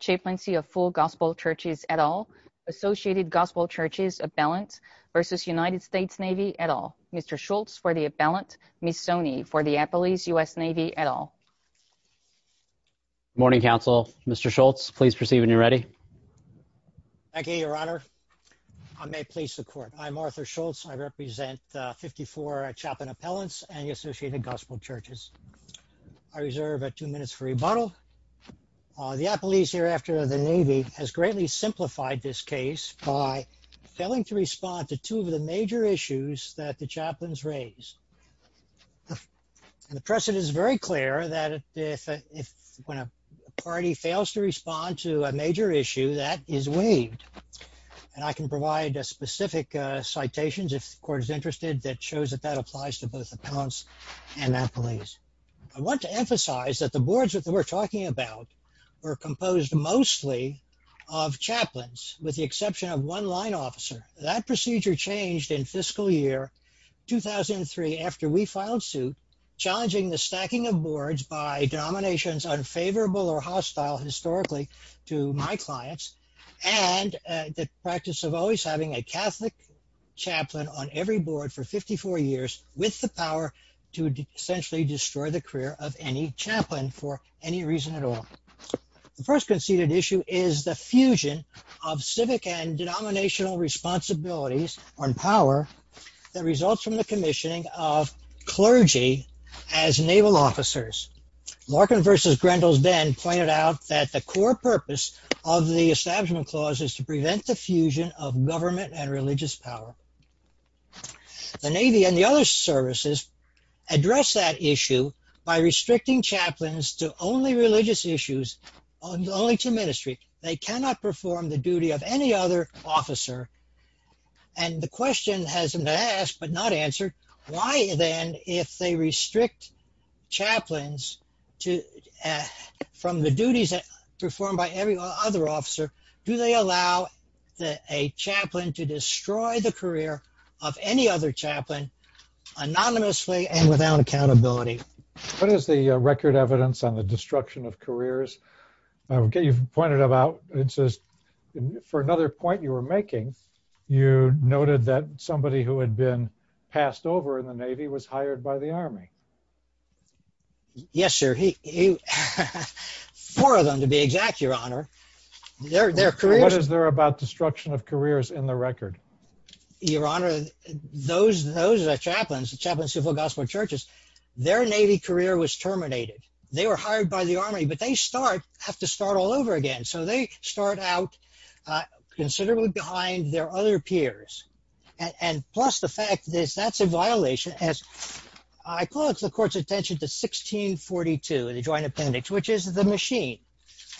Chaplaincy of Full Gospel Churches, et al., Associated Gospel Churches, Abellant, versus United States Navy, et al., Mr. Schultz for the Abellant, Missoni for the Appalachian U.S. Navy, et al. Good morning, counsel. Mr. Schultz, please proceed when you're ready. Thank you, Your Honor. I may please the court. I'm Arthur Schultz. I represent 54 chaplain appellants and the Associated Gospel Churches. I reserve two minutes for rebuttal. The appellees hereafter of the Navy has greatly simplified this case by failing to respond to two of the major issues that the chaplains raised. The precedent is very clear that if when a party fails to respond to a major issue, that is waived. And I can provide specific citations, if the court is interested, that shows that that applies to both appellants and appellees. I want to emphasize that the boards that we're talking about were composed mostly of chaplains, with the exception of one line officer. That procedure changed in fiscal year 2003 after we filed suit, challenging the stacking of boards by denominations unfavorable or hostile historically to my clients, and the practice of always having a Catholic chaplain on every board for 54 years with the power to essentially destroy the career of any chaplain for any reason at all. The first conceded issue is the fusion of civic and denominational responsibilities on power that results from the commissioning of clergy as naval officers. Larkin versus Grendel then pointed out that the core purpose of the establishment clause is to prevent the fusion of government and religious power. The Navy and the other services address that issue by restricting chaplains to only religious issues, only to ministry. They cannot perform the duty of any other officer. And the question has been asked, but not answered. Why then, if they restrict chaplains from the duties performed by every other officer, do they allow a chaplain to destroy the career of any other chaplain anonymously and without accountability? What is the record evidence on the destruction of careers? You've pointed out, for another point you were making, you noted that somebody who had been passed over in the Navy was hired by the Army. Yes, sir. Four of them, to be exact, Your Honor. What is there about destruction of careers in the record? Your Honor, those chaplains, chaplains of gospel churches, their Navy career was terminated. They were hired by the Army, but they have to start all over again. So they start out considerably behind their other peers. And plus the fact that that's a violation. I call the court's attention to 1642, the Joint Appendix, which is the machine.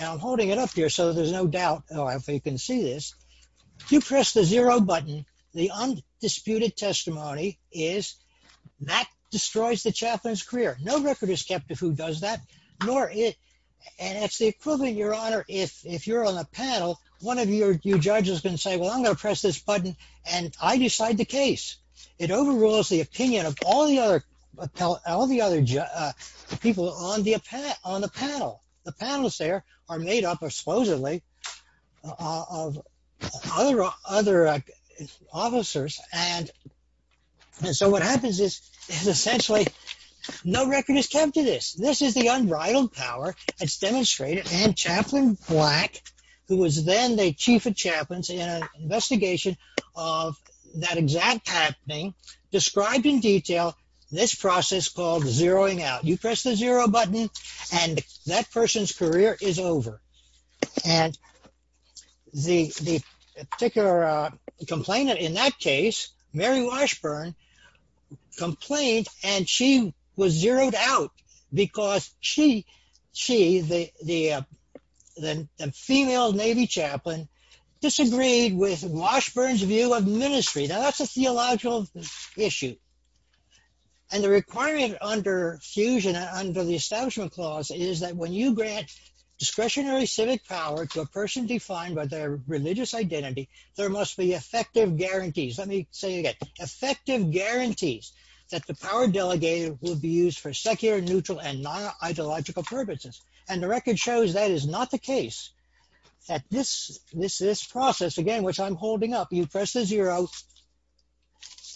I'm holding it up here so there's no doubt you can see this. If you press the zero button, the undisputed testimony is, that destroys the chaplain's career. No record is kept of who does that. And it's the equivalent, Your Honor, if you're on a panel, one of your judges can say, well, I'm going to press this button and I decide the case. It overrules the opinion of all the other people on the panel. The panelists there are made up, supposedly, of other officers. And so what happens is, essentially, no record is kept of this. This is the unbridled power. It's demonstrated. And Chaplain Black, who was then the chief of chaplains in an investigation of that exact happening, described in detail this process called zeroing out. You press the zero button and that person's career is over. And the particular complainant in that case, Mary Washburn, complained and she was zeroed out because she, the female Navy chaplain, disagreed with Washburn's view of ministry. Now, that's a theological issue. And the requirement under fusion, under the Establishment Clause, is that when you grant discretionary civic power to a person defined by their religious identity, there must be effective guarantees. Let me say it again. Effective guarantees that the power delegated will be used for secular, neutral, and non-ideological purposes. And the record shows that is not the case. This process, again, which I'm holding up, you press the zero,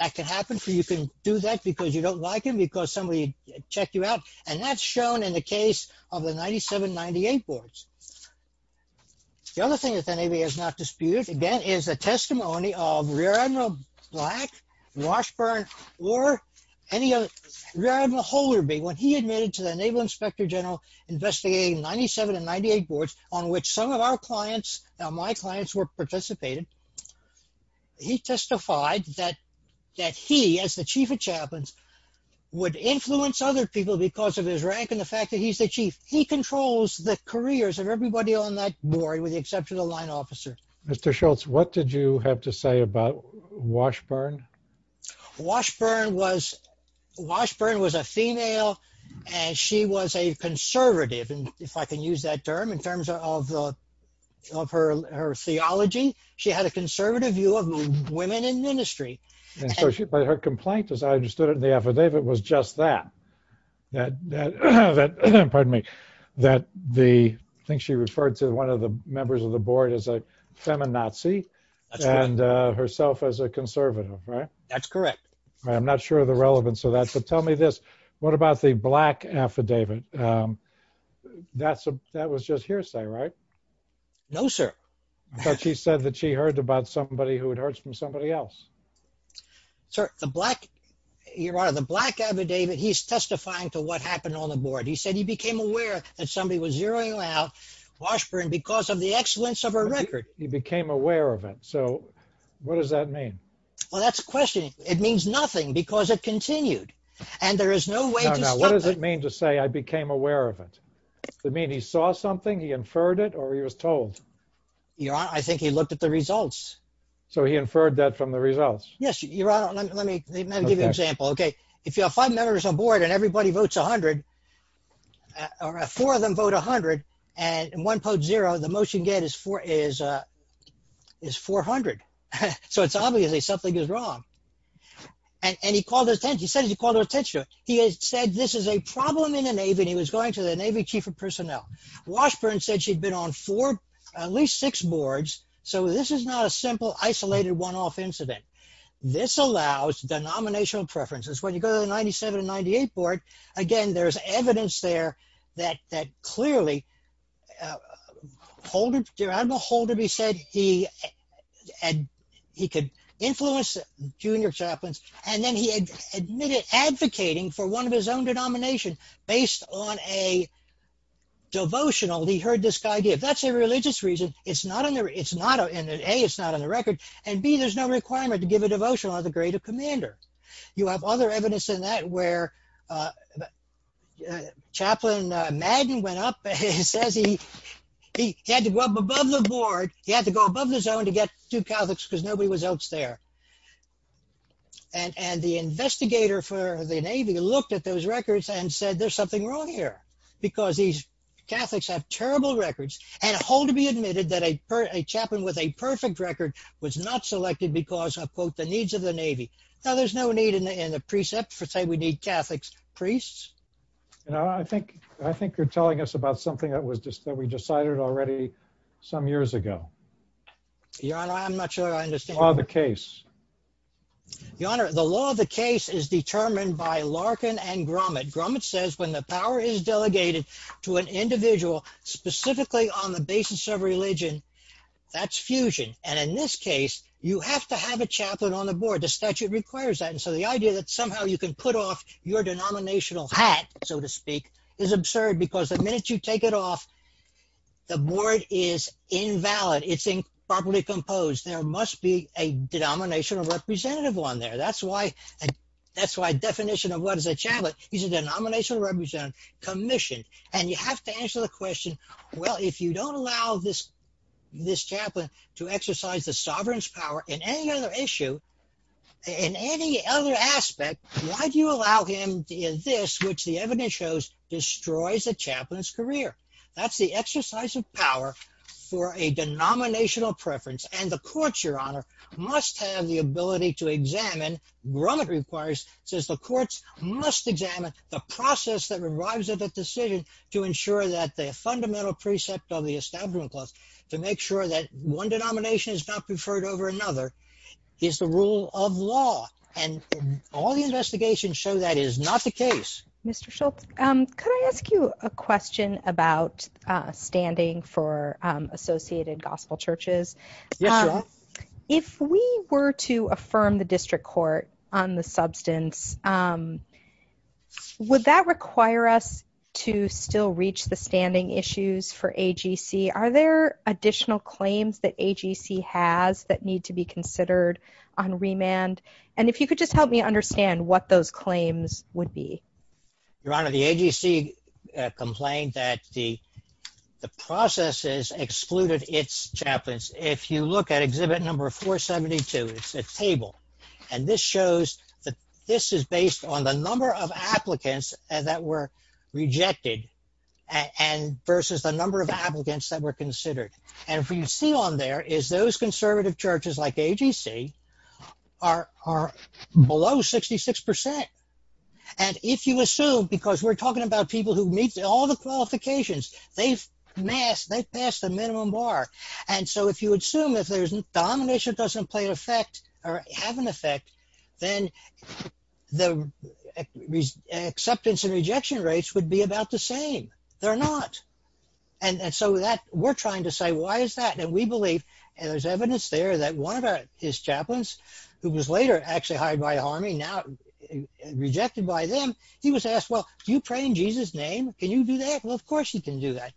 that can happen. You can do that because you don't like him, because somebody checked you out. And that's shown in the case of the 97-98 boards. The other thing that the Navy has not disputed, again, is the testimony of Rear Admiral Black, Washburn, or any other, Rear Admiral Holderby, when he admitted to the Naval Inspector General investigating 97-98 boards, on which some of our clients, my clients, were participating, he testified that he, as the chief of chaplains, would influence other people because of his rank and the fact that he's the chief. He controls the careers of everybody on that board, with the exception of the line officer. Mr. Schultz, what did you have to say about Washburn? Washburn was a female, and she was a conservative, if I can use that term, in terms of her theology. She had a conservative view of women in ministry. But her complaint, as I understood it in the affidavit, was just that. Pardon me. I think she referred to one of the members of the board as a feminazi, and herself as a conservative, right? That's correct. I'm not sure of the relevance of that, but tell me this. What about the Black affidavit? That was just hearsay, right? No, sir. I thought she said that she heard about somebody who had heard from somebody else. Sir, the Black, Your Honor, the Black affidavit, he's testifying to what happened on the board. He said he became aware that somebody was zeroing out Washburn because of the excellence of her record. He became aware of it. So, what does that mean? Well, that's the question. It means nothing because it continued, and there is no way to stop it. Now, what does it mean to say, I became aware of it? Does it mean he saw something, he inferred it, or he was told? Your Honor, I think he looked at the results. So, he inferred that from the results? Yes, Your Honor. Let me give you an example. Okay. If you have five members on board and everybody votes 100, or four of them vote 100, and one votes zero, the motion is 400. So, it's obviously something is wrong. And he called attention, he said he called attention to it. He said this is a problem in the Navy, and he was going to the Navy Chief of Personnel. Washburn said she'd been on four, at least six boards. So, this is not a simple, isolated, one-off incident. This allows denominational preferences. When you go to the 97 and 98 board, again, there's evidence there that clearly, hold it, hold it, he said he could influence junior chaplains, and then he admitted advocating for one of his own denomination based on a devotional he heard this guy give. If that's a religious reason, A, it's not on the record, and B, there's no requirement to give a devotional on the grade of commander. You have other evidence in that where Chaplain Madden went up and says he had to go up above the board, he had to go above the zone to get two Catholics because nobody was else there. And the investigator for the Navy looked at those records and said, there's something wrong here, because these Catholics have terrible records, and hold to be admitted that a chaplain with a perfect record was not selected because of, quote, the needs of the Navy. Now, there's no need in the precepts to say we need Catholics priests. I think you're telling us about something that we decided already some years ago. Your Honor, I'm not sure I understand. The law of the case. And in this case, you have to have a chaplain on the board. The statute requires that. And so the idea that somehow you can put off your denominational hat, so to speak, is absurd because the minute you take it off, the board is invalid. It's improperly composed. There must be a denominational representative on there. That's why definition of what is a chaplain is a denominational representative commissioned. And you have to answer the question, well, if you don't allow this chaplain to exercise the sovereign's power in any other issue, in any other aspect, why do you allow him this, which the evidence shows destroys a chaplain's career? That's the exercise of power for a denominational preference. And the courts, Your Honor, must have the ability to examine. Grumman requires, says the courts must examine the process that arrives at a decision to ensure that the fundamental precept of the establishment clause, to make sure that one denomination is not preferred over another, is the rule of law. And all the investigations show that is not the case. Thank you very much, Mr. Schultz. Could I ask you a question about standing for associated gospel churches? Yes, Your Honor. If we were to affirm the district court on the substance, would that require us to still reach the standing issues for AGC? Are there additional claims that AGC has that need to be considered on remand? And if you could just help me understand what those claims would be. Your Honor, the AGC complained that the processes excluded its chaplains. If you look at exhibit number 472, it's a table. And this shows that this is based on the number of applicants that were rejected versus the number of applicants that were considered. And what you see on there is those conservative churches like AGC are below 66%. And if you assume, because we're talking about people who meet all the qualifications, they've passed the minimum bar. And so if you assume if there's domination doesn't play an effect or have an effect, then the acceptance and rejection rates would be about the same. They're not. And so we're trying to say, why is that? And we believe, and there's evidence there, that one of his chaplains, who was later actually hired by the army, now rejected by them, he was asked, well, do you pray in Jesus' name? Can you do that? Well, of course you can do that.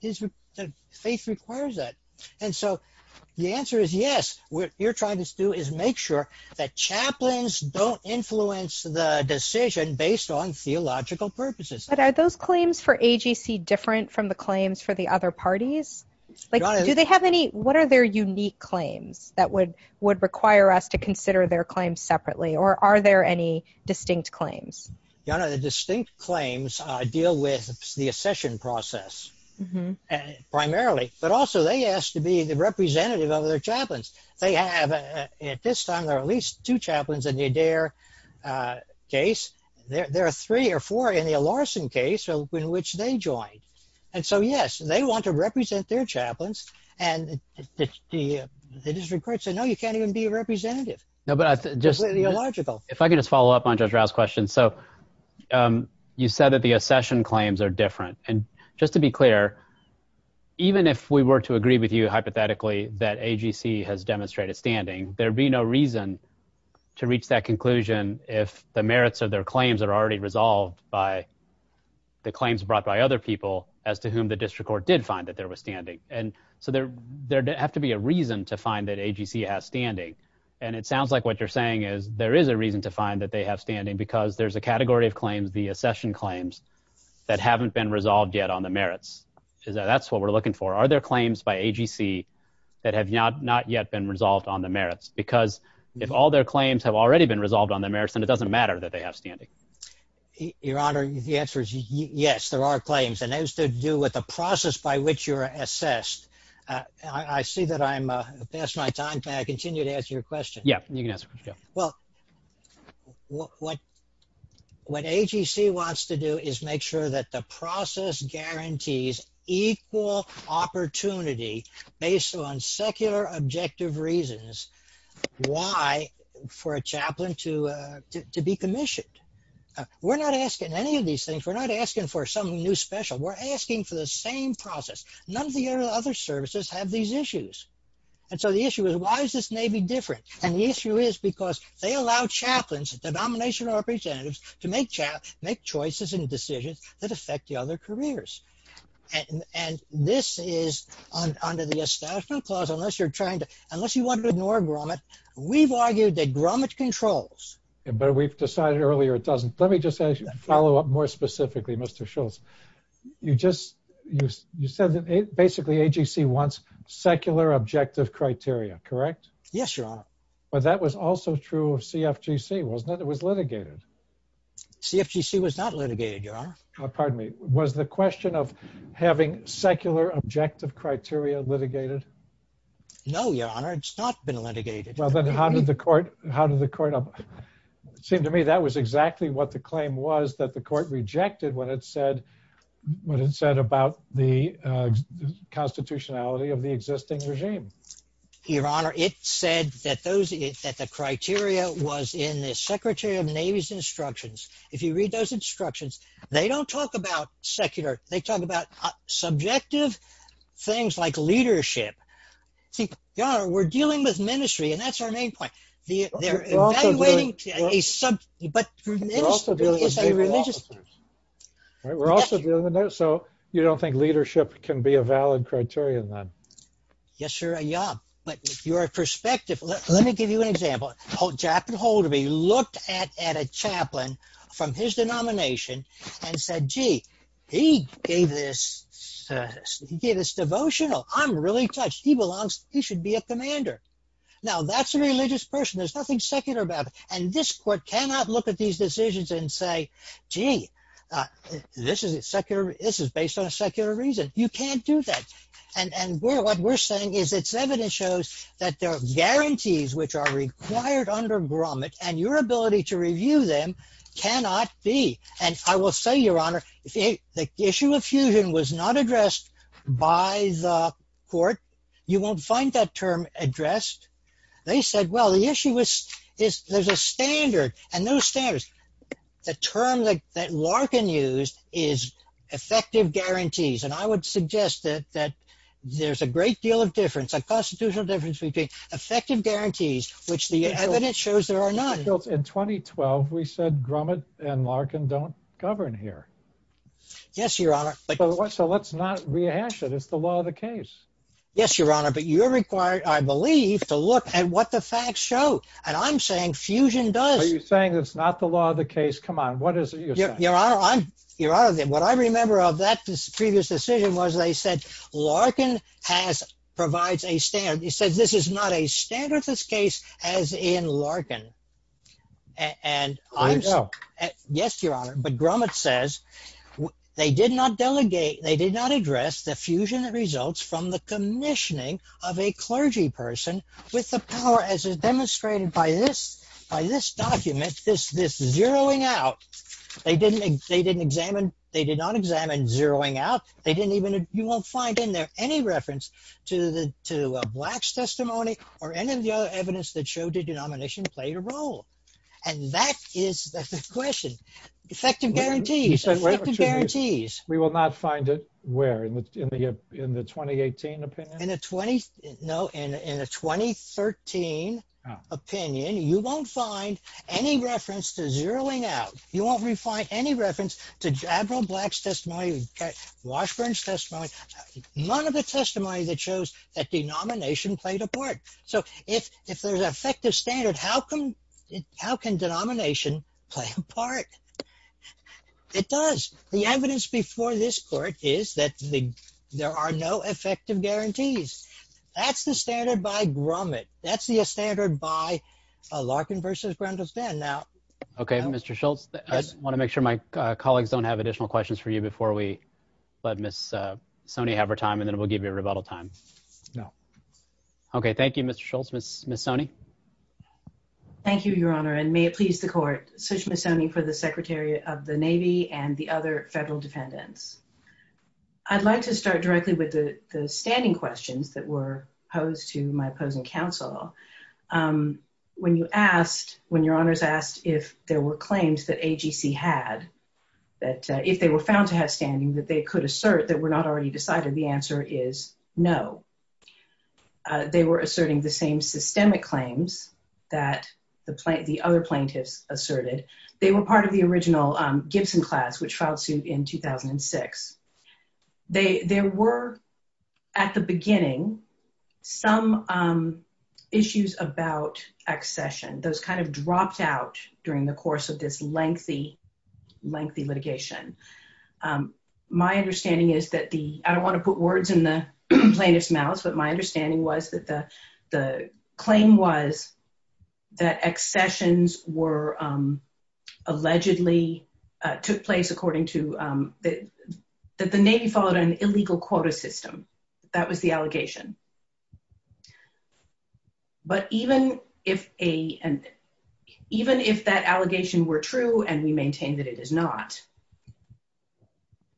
Faith requires that. And so the answer is yes. What you're trying to do is make sure that chaplains don't influence the decision based on theological purposes. But are those claims for AGC different from the claims for the other parties? What are their unique claims that would require us to consider their claims separately? Or are there any distinct claims? You know, the distinct claims deal with the accession process primarily, but also they asked to be the representative of their chaplains. They have at this time, there are at least two chaplains in the Adair case. There are three or four in the Larson case in which they joined. And so, yes, they want to represent their chaplains. And the district court said, no, you can't even be a representative. If I can just follow up on Judge Rouse's question. So you said that the accession claims are different. And just to be clear, even if we were to agree with you hypothetically that AGC has demonstrated standing, there'd be no reason to reach that conclusion if the merits of their claims are already resolved by the claims brought by other people as to whom the district court did find that there was standing. And so there'd have to be a reason to find that AGC has standing. And it sounds like what you're saying is there is a reason to find that they have standing because there's a category of claims, the accession claims, that haven't been resolved yet on the merits. That's what we're looking for. Are there claims by AGC that have not yet been resolved on the merits? Because if all their claims have already been resolved on the merits, then it doesn't matter that they have standing. Your Honor, the answer is yes, there are claims. And that has to do with the process by which you're assessed. I see that I'm past my time. Can I continue to ask your question? Yeah, you can ask. Well, what AGC wants to do is make sure that the process guarantees equal opportunity based on secular objective reasons why for a chaplain to be commissioned. We're not asking any of these things. We're not asking for some new special. We're asking for the same process. None of the other services have these issues. And so the issue is, why is this Navy different? And the issue is because they allow chaplains, denomination representatives, to make choices and decisions that affect the other careers. And this is under the Establishment Clause, unless you're trying to, unless you want to ignore grommet, we've argued that grommet controls. But we've decided earlier it doesn't. Let me just follow up more specifically, Mr. Schultz. You said that basically AGC wants secular objective criteria, correct? Yes, Your Honor. But that was also true of CFGC, wasn't it? It was litigated. CFGC was not litigated, Your Honor. Pardon me. Was the question of having secular objective criteria litigated? No, Your Honor. It's not been litigated. Well, then how did the court, it seemed to me that was exactly what the claim was that the court rejected what it said about the constitutionality of the existing regime. Your Honor, it said that the criteria was in the Secretary of the Navy's instructions. If you read those instructions, they don't talk about secular. They talk about subjective things like leadership. Your Honor, we're dealing with ministry, and that's our main point. They're evaluating a subject, but ministry is a religious thing. We're also dealing with leadership, so you don't think leadership can be a valid criterion then? Yes, Your Honor. But your perspective, let me give you an example. Jack Holderby looked at a chaplain from his denomination and said, gee, he gave this devotional. I'm really touched. He belongs, he should be a commander. Now, that's a religious person. There's nothing secular about it. And this court cannot look at these decisions and say, gee, this is based on a secular reason. You can't do that. And what we're saying is its evidence shows that there are guarantees which are required under Gromit, and your ability to review them cannot be. And I will say, Your Honor, if the issue of fusion was not addressed by the court, you won't find that term addressed. They said, well, the issue is there's a standard, and those standards, the term that Larkin used is effective guarantees. And I would suggest that there's a great deal of difference, a constitutional difference between effective guarantees, which the evidence shows there are none. In 2012, we said Gromit and Larkin don't govern here. Yes, Your Honor. So let's not rehash it. It's the law of the case. Yes, Your Honor. But you're required, I believe, to look at what the facts show. And I'm saying fusion does. Are you saying it's not the law of the case? Come on. What is it you're saying? Your Honor, what I remember of that previous decision was they said Larkin provides a standard. It says this is not a standard, this case, as in Larkin. There you go. Yes, Your Honor, but Gromit says they did not delegate, they did not address the fusion results from the commissioning of a clergy person with the power, as is demonstrated by this document, this zeroing out. They didn't examine, they did not examine zeroing out. They didn't even, you won't find in there any reference to Black's testimony or any of the other evidence that showed the denomination played a role. And that is the question. Effective guarantees, effective guarantees. We will not find it where? In the 2018 opinion? No, in the 2013 opinion, you won't find any reference to zeroing out. You won't find any reference to Admiral Black's testimony, Washburn's testimony, none of the testimony that shows that denomination played a part. So if there's an effective standard, how can denomination play a part? It does. The evidence before this court is that there are no effective guarantees. That's the standard by Gromit. That's the standard by Larkin v. Grendelstan. Okay, Mr. Schultz, I just want to make sure my colleagues don't have additional questions for you before we let Ms. Sonny have her time, and then we'll give you a rebuttal time. Okay, thank you, Mr. Schultz. Ms. Sonny? Thank you, Your Honor, and may it please the court, Sushma Sonny for the Secretary of the Navy and the other federal defendants. I'd like to start directly with the standing questions that were posed to my opposing counsel. When your honors asked if there were claims that AGC had, that if they were found to have standing, that they could assert that were not already decided, the answer is no. They were asserting the same systemic claims that the other plaintiffs asserted. They were part of the original Gibson class, which filed suit in 2006. There were, at the beginning, some issues about accession. Those kind of dropped out during the course of this lengthy, lengthy litigation. My understanding is that the, I don't want to put words in the plaintiff's mouth, but my understanding was that the claim was that accessions were allegedly, took place according to, that the Navy followed an illegal quota system. That was the allegation. But even if that allegation were true, and we maintain that it is not,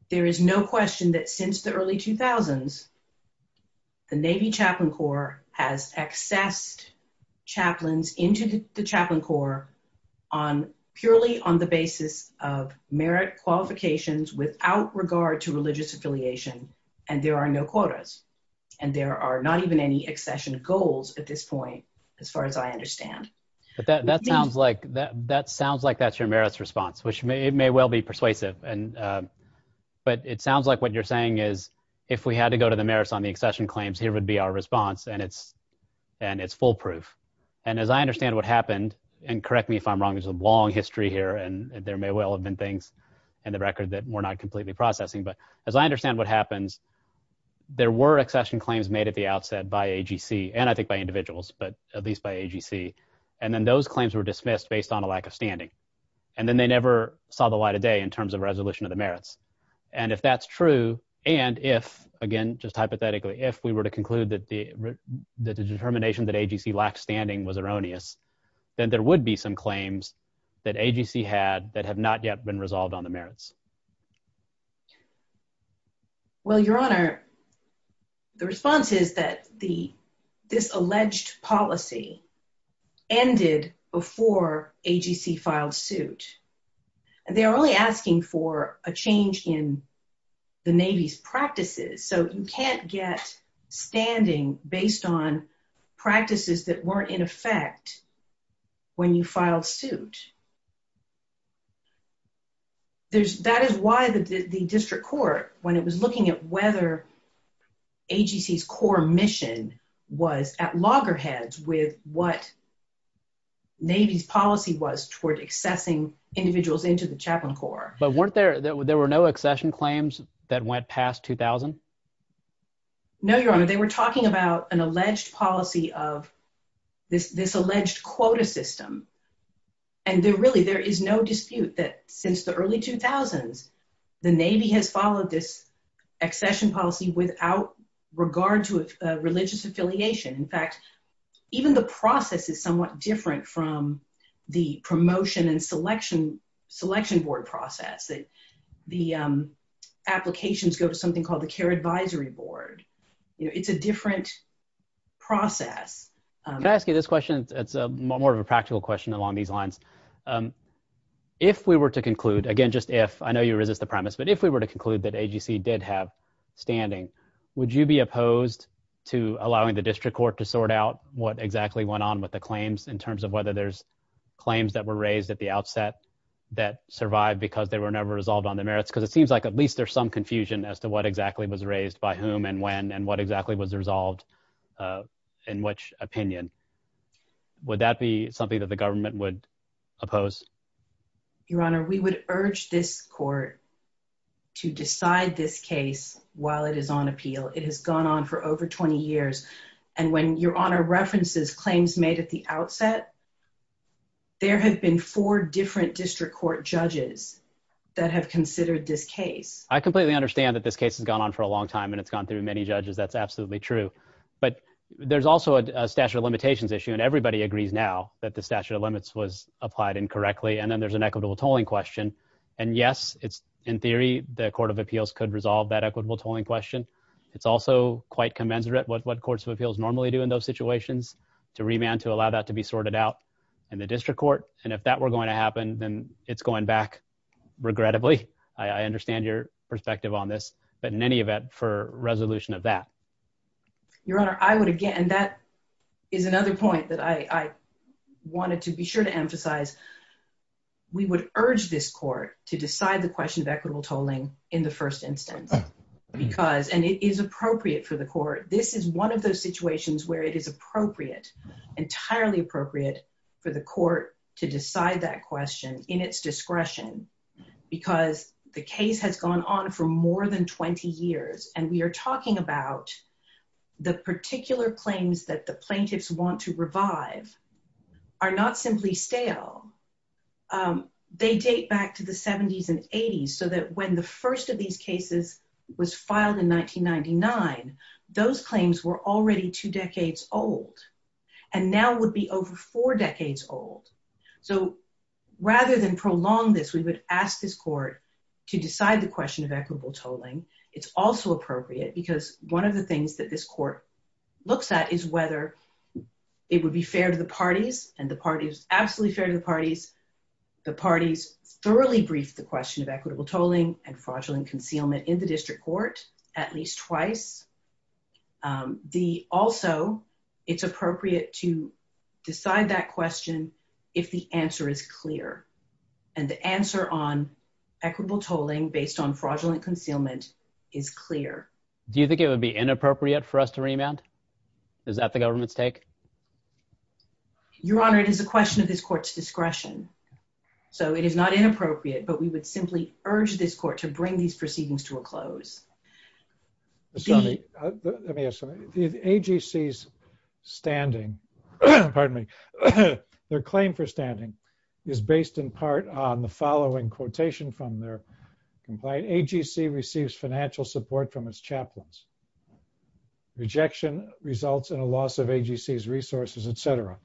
there is no question that since the early 2000s, the Navy Chaplain Corps has accessed chaplains into the Chaplain Corps purely on the basis of merit qualifications without regard to religious affiliation, and there are no quotas. And there are not even any accession goals at this point, as far as I understand. But that sounds like, that sounds like that's your merits response, which may, it may well be persuasive and, but it sounds like what you're saying is, if we had to go to the merits on the accession claims, here would be our response and it's, and it's foolproof. And as I understand what happened, and correct me if I'm wrong, there's a long history here and there may well have been things in the record that we're not completely processing, but as I understand what happens, there were accession claims made at the outset by AGC, and I think by individuals, but at least by AGC, and then those claims were dismissed based on a lack of standing. And then they never saw the light of day in terms of resolution of the merits. And if that's true, and if, again, just hypothetically, if we were to conclude that the determination that AGC lacked standing was erroneous, then there would be some claims that AGC had that have not yet been resolved on the merits. Well, Your Honor, the response is that the, this alleged policy ended before AGC filed suit. And they are only asking for a change in the Navy's practices. So you can't get standing based on practices that weren't in effect when you filed suit. There's, that is why the district court, when it was looking at whether AGC's core mission was at loggerheads with what Navy's policy was toward accessing individuals into the Chaplain Corps. But weren't there, there were no accession claims that went past 2000? No, Your Honor, they were talking about an alleged policy of this, this alleged quota system. And there really, there is no dispute that since the early 2000s, the Navy has followed this accession policy without regard to religious affiliation. In fact, even the process is somewhat different from the promotion and selection, selection board process that the applications go to something called the Care Advisory Board. It's a different process. Can I ask you this question? It's more of a practical question along these lines. If we were to conclude, again, just if, I know you resist the premise, but if we were to conclude that AGC did have standing, would you be opposed to allowing the district court to sort out what exactly went on with the claims in terms of whether there's claims that were raised at the outset that survived because they were never resolved on the merits? Because it seems like at least there's some confusion as to what exactly was raised by whom and when and what exactly was resolved in which opinion. Would that be something that the government would oppose? Your Honor, we would urge this court to decide this case while it is on appeal. It has gone on for over 20 years. And when Your Honor references claims made at the outset, there have been four different district court judges that have considered this case. I completely understand that this case has gone on for a long time and it's gone through many judges. That's absolutely true. But there's also a statute of limitations issue and everybody agrees now that the statute of limits was applied incorrectly. And then there's an equitable tolling question. And yes, it's in theory, the court of appeals could resolve that equitable tolling question. It's also quite commensurate with what courts of appeals normally do in those situations to remand to allow that to be sorted out in the district court. And if that were going to happen, then it's going back. Regrettably, I understand your perspective on this, but in any event for resolution of that. Your Honor, I would again that is another point that I wanted to be sure to emphasize. We would urge this court to decide the question of equitable tolling in the first instance, because and it is appropriate for the court. This is one of those situations where it is appropriate, entirely appropriate for the court to decide that question in its discretion. Because the case has gone on for more than 20 years and we are talking about the particular claims that the plaintiffs want to revive are not simply stale. They date back to the 70s and 80s so that when the first of these cases was filed in 1999 those claims were already two decades old and now would be over four decades old. So rather than prolong this, we would ask this court to decide the question of equitable tolling. It's also appropriate because one of the things that this court looks at is whether It would be fair to the parties and the parties absolutely fair to the parties, the parties thoroughly brief the question of equitable tolling and fraudulent concealment in the district court at least twice. The also it's appropriate to decide that question. If the answer is clear and the answer on equitable tolling based on fraudulent concealment is clear. Do you think it would be inappropriate for us to remand. Is that the government's take Your Honor, it is a question of this court's discretion. So it is not inappropriate, but we would simply urge this court to bring these proceedings to a close. The AGC's standing. Pardon me, their claim for standing is based in part on the following quotation from their compliant AGC receives financial support from its chaplains. Rejection results in a loss of AGC resources, etc.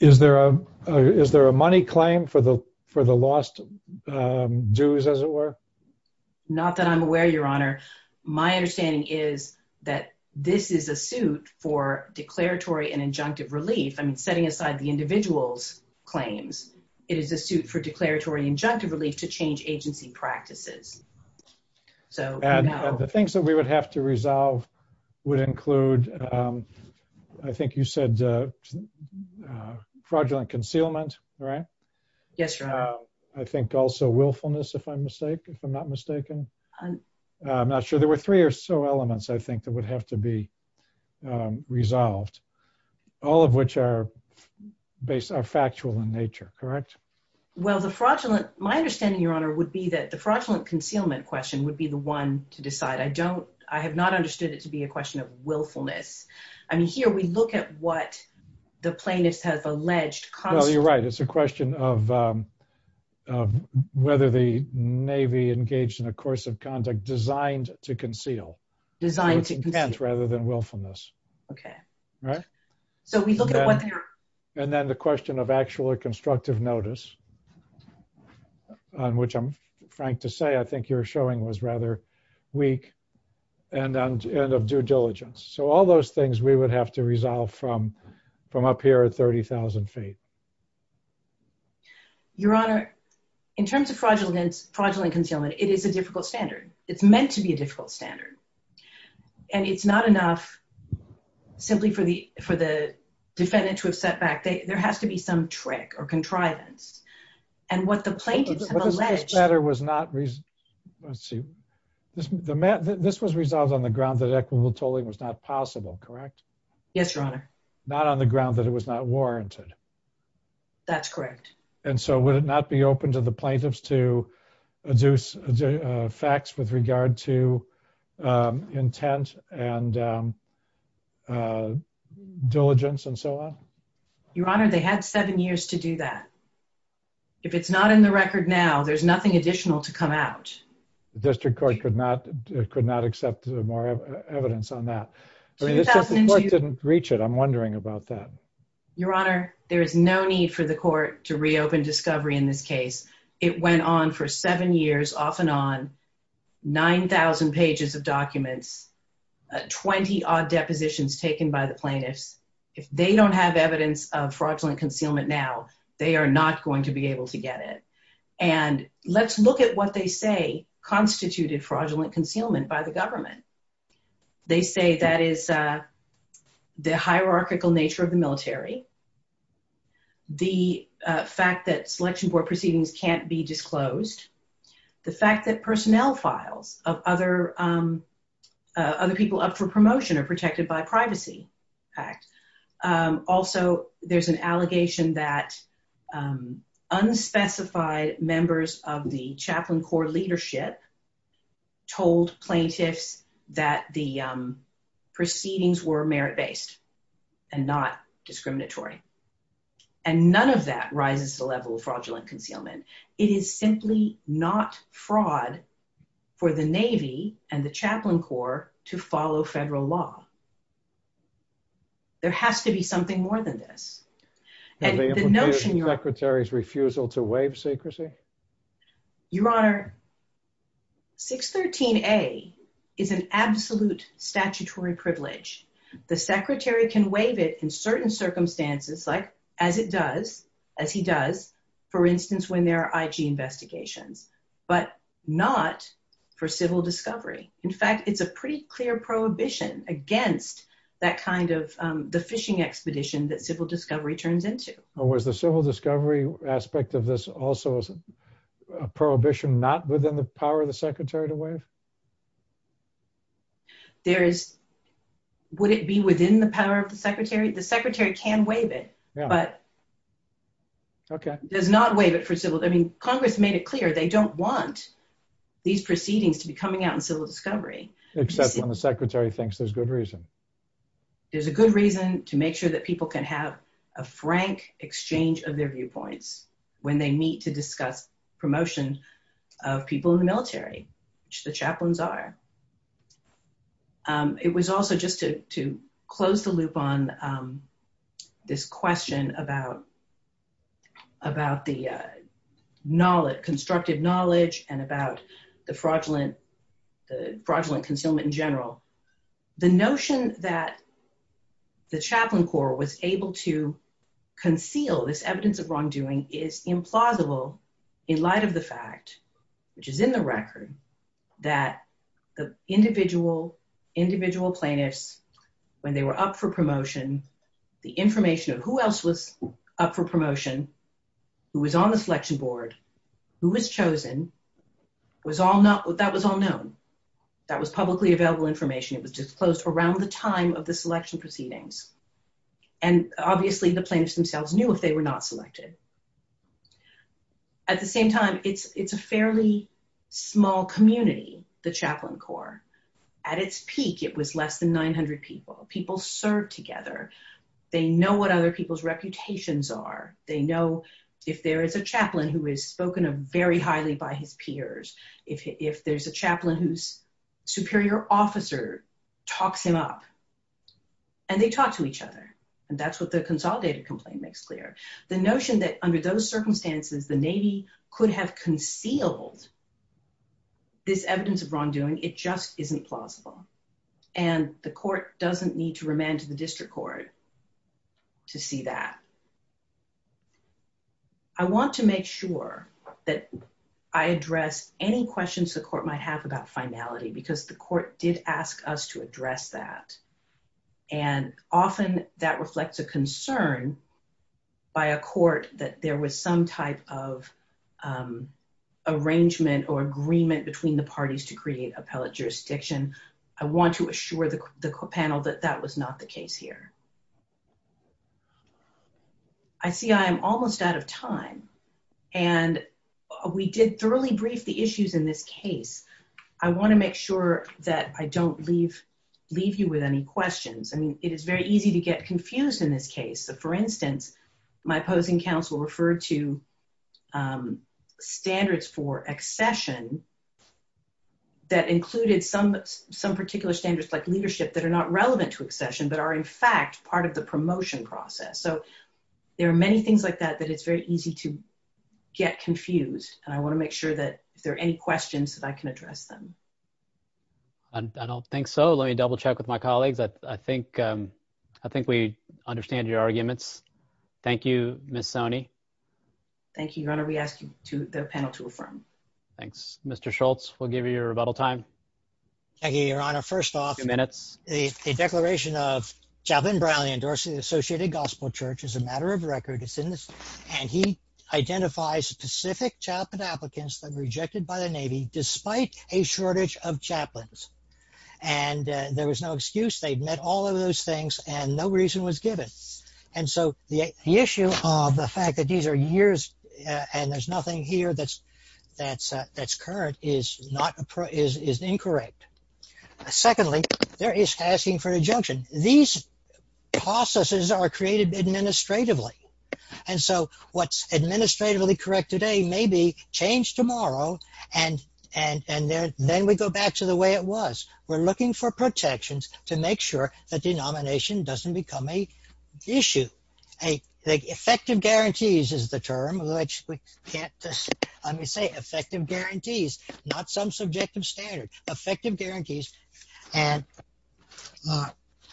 Is there a is there a money claim for the for the lost Jews, as it were. Not that I'm aware, Your Honor. My understanding is that this is a suit for declaratory and injunctive relief. I mean, setting aside the individuals claims. It is a suit for declaratory injunctive relief to change agency practices. So, and the things that we would have to resolve would include I think you said Fraudulent concealment. Right. Yes. I think also willfulness. If I'm mistaken, if I'm not mistaken. I'm not sure there were three or so elements. I think that would have to be Resolved, all of which are based on factual in nature. Correct. Well, the fraudulent my understanding, Your Honor, would be that the fraudulent concealment question would be the one to decide. I don't, I have not understood it to be a question of willfulness. I mean, here we look at what the plaintiffs have alleged You're right. It's a question of Whether the Navy engaged in a course of conduct designed to conceal Designed to Rather than willfulness. Okay. So we look at And then the question of actually constructive notice. On which I'm trying to say I think you're showing was rather weak and and and of due diligence. So all those things we would have to resolve from from up here at 30,000 feet. Your Honor, in terms of fraudulence fraudulent concealment. It is a difficult standard. It's meant to be a difficult standard. And it's not enough. Simply for the for the defendant to have set back they there has to be some trick or contrivance and what the plaintiffs Better was not reason. Let's see, this was resolved on the ground that equitable tolling was not possible. Correct. Yes, Your Honor. Not on the ground that it was not warranted That's correct. And so would it not be open to the plaintiffs to induce facts with regard to Intent and Diligence and so on. Your Honor, they had seven years to do that. If it's not in the record. Now there's nothing additional to come out. District Court could not could not accept more evidence on that. Didn't reach it. I'm wondering about that. Your Honor, there is no need for the court to reopen discovery. In this case, it went on for seven years off and on 9000 pages of documents. 20 odd depositions taken by the plaintiffs. If they don't have evidence of fraudulent concealment. Now they are not going to be able to get it. And let's look at what they say constituted fraudulent concealment by the government. They say that is The hierarchical nature of the military. The fact that selection board proceedings can't be disclosed. The fact that personnel files of other Other people up for promotion are protected by Privacy Act. Also, there's an allegation that Unspecified members of the chaplain core leadership told plaintiffs that the proceedings were merit based and not discriminatory. And none of that rises to level fraudulent concealment. It is simply not fraud for the Navy and the chaplain core to follow federal law. There has to be something more than this. Secretary's refusal to waive secrecy. Your Honor. 613 a is an absolute statutory privilege. The Secretary can waive it in certain circumstances like as it does, as he does. For instance, when there are IG investigations, but not For civil discovery. In fact, it's a pretty clear prohibition against that kind of the fishing expedition that civil discovery turns into Or was the civil discovery aspect of this also Prohibition not within the power of the Secretary to waive There is, would it be within the power of the Secretary, the Secretary can waive it, but Okay, does not waive it for civil. I mean, Congress made it clear they don't want these proceedings to be coming out and civil discovery. Except when the Secretary thinks there's good reason There's a good reason to make sure that people can have a frank exchange of their viewpoints when they meet to discuss promotion of people in the military, which the chaplains are It was also just to close the loop on This question about About the knowledge constructive knowledge and about the fraudulent the fraudulent concealment in general, the notion that The chaplain corps was able to conceal this evidence of wrongdoing is implausible in light of the fact, which is in the record. That the individual, individual plaintiffs when they were up for promotion, the information of who else was up for promotion. Who was on the selection board who was chosen was all not what that was all known that was publicly available information. It was disclosed around the time of the selection proceedings and obviously the plaintiffs themselves knew if they were not selected. At the same time, it's, it's a fairly small community. The chaplain corps at its peak. It was less than 900 people people serve together. They know what other people's reputations are they know if there is a chaplain who is spoken of very highly by his peers. If there's a chaplain who's superior officer talks him up. And they talk to each other. And that's what the consolidated complaint makes clear the notion that under those circumstances, the Navy could have concealed This evidence of wrongdoing. It just isn't plausible and the court doesn't need to remand to the district court. To see that I want to make sure that I address any questions the court might have about finality because the court did ask us to address that and often that reflects a concern by a court that there was some type of Arrangement or agreement between the parties to create appellate jurisdiction. I want to assure the panel that that was not the case here. I see I'm almost out of time and we did thoroughly brief the issues in this case. I want to make sure that I don't leave leave you with any questions. I mean, it is very easy to get confused. In this case, for instance, my opposing counsel referred to Standards for accession. That included some some particular standards like leadership that are not relevant to accession, but are in fact part of the promotion process. So there are many things like that, that it's very easy to get confused and I want to make sure that if there are any questions that I can address them. And I don't think so. Let me double check with my colleagues. I think, I think we understand your arguments. Thank you, Miss Sony Thank you, your honor. We asked you to the panel to affirm. Thanks, Mr. Schultz. We'll give you your rebuttal time. Thank you, Your Honor. First off, a declaration of Chaplain Brown endorsing the Associated Gospel Church is a matter of record. It's in this And he identifies specific chaplain applicants that were rejected by the Navy, despite a shortage of chaplains. And there was no excuse. They've met all of those things and no reason was given. And so the issue of the fact that these are years and there's nothing here that's that's that's current is not is incorrect. Secondly, there is asking for a junction. These processes are created administratively. And so what's administratively correct today may be changed tomorrow. And, and, and then we go back to the way it was. We're looking for protections to make sure that denomination doesn't become a issue. Effective guarantees is the term which we can't just say effective guarantees, not some subjective standard effective guarantees and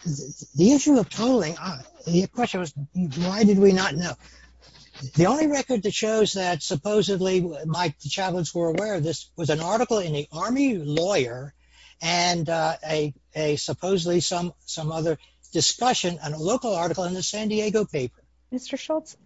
The issue of tolling, the question was, why did we not know? The only record that shows that supposedly my chaplains were aware of this was an article in the Army Lawyer and a supposedly some some other discussion and a local article in the San Diego paper.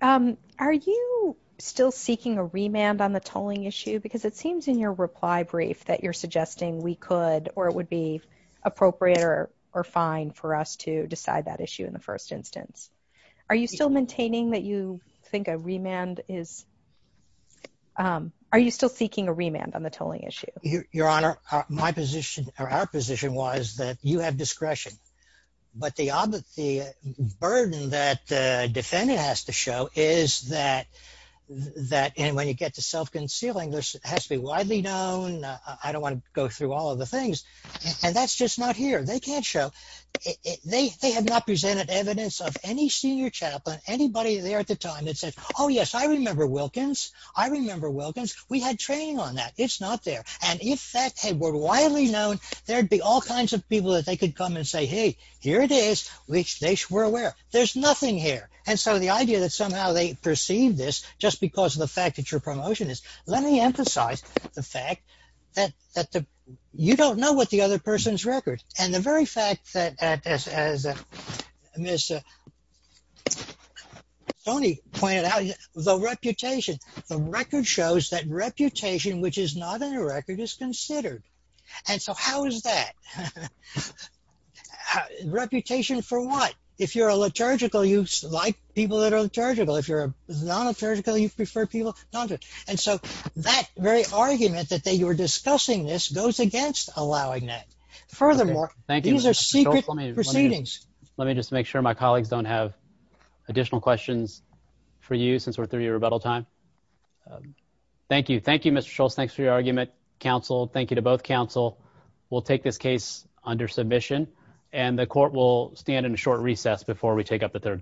Are you still seeking a remand on the tolling issue because it seems in your reply brief that you're suggesting we could or it would be appropriate or or fine for us to decide that issue in the first instance, are you still maintaining that you think a remand is Are you still seeking a remand on the tolling issue. Your Honor, my position or our position was that you have discretion, but the burden that the defendant has to show is that That when you get to self concealing this has to be widely known. I don't want to go through all of the things and that's just not here. They can't show They have not presented evidence of any senior chaplain, anybody there at the time that said, oh yes, I remember Wilkins. I remember Wilkins, we had training on that. It's not there. And if that had been widely known There'd be all kinds of people that they could come and say, hey, here it is, which they were aware. There's nothing here. And so the idea that somehow they perceive this just because of the fact that your promotion is. Let me emphasize the fact that You don't know what the other person's record and the very fact that as Tony pointed out, the reputation, the record shows that reputation, which is not in the record is considered. And so how is that Reputation for what if you're a liturgical you like people that are liturgical if you're a non liturgical you prefer people. And so that very argument that they were discussing this goes against allowing that. Furthermore, thank you. These are secret proceedings. Let me just make sure my colleagues don't have additional questions for you since we're through your rebuttal time Thank you. Thank you, Mr. Schultz. Thanks for your argument, counsel. Thank you to both counsel will take this case under submission and the court will stand in a short recess before we take up the third case.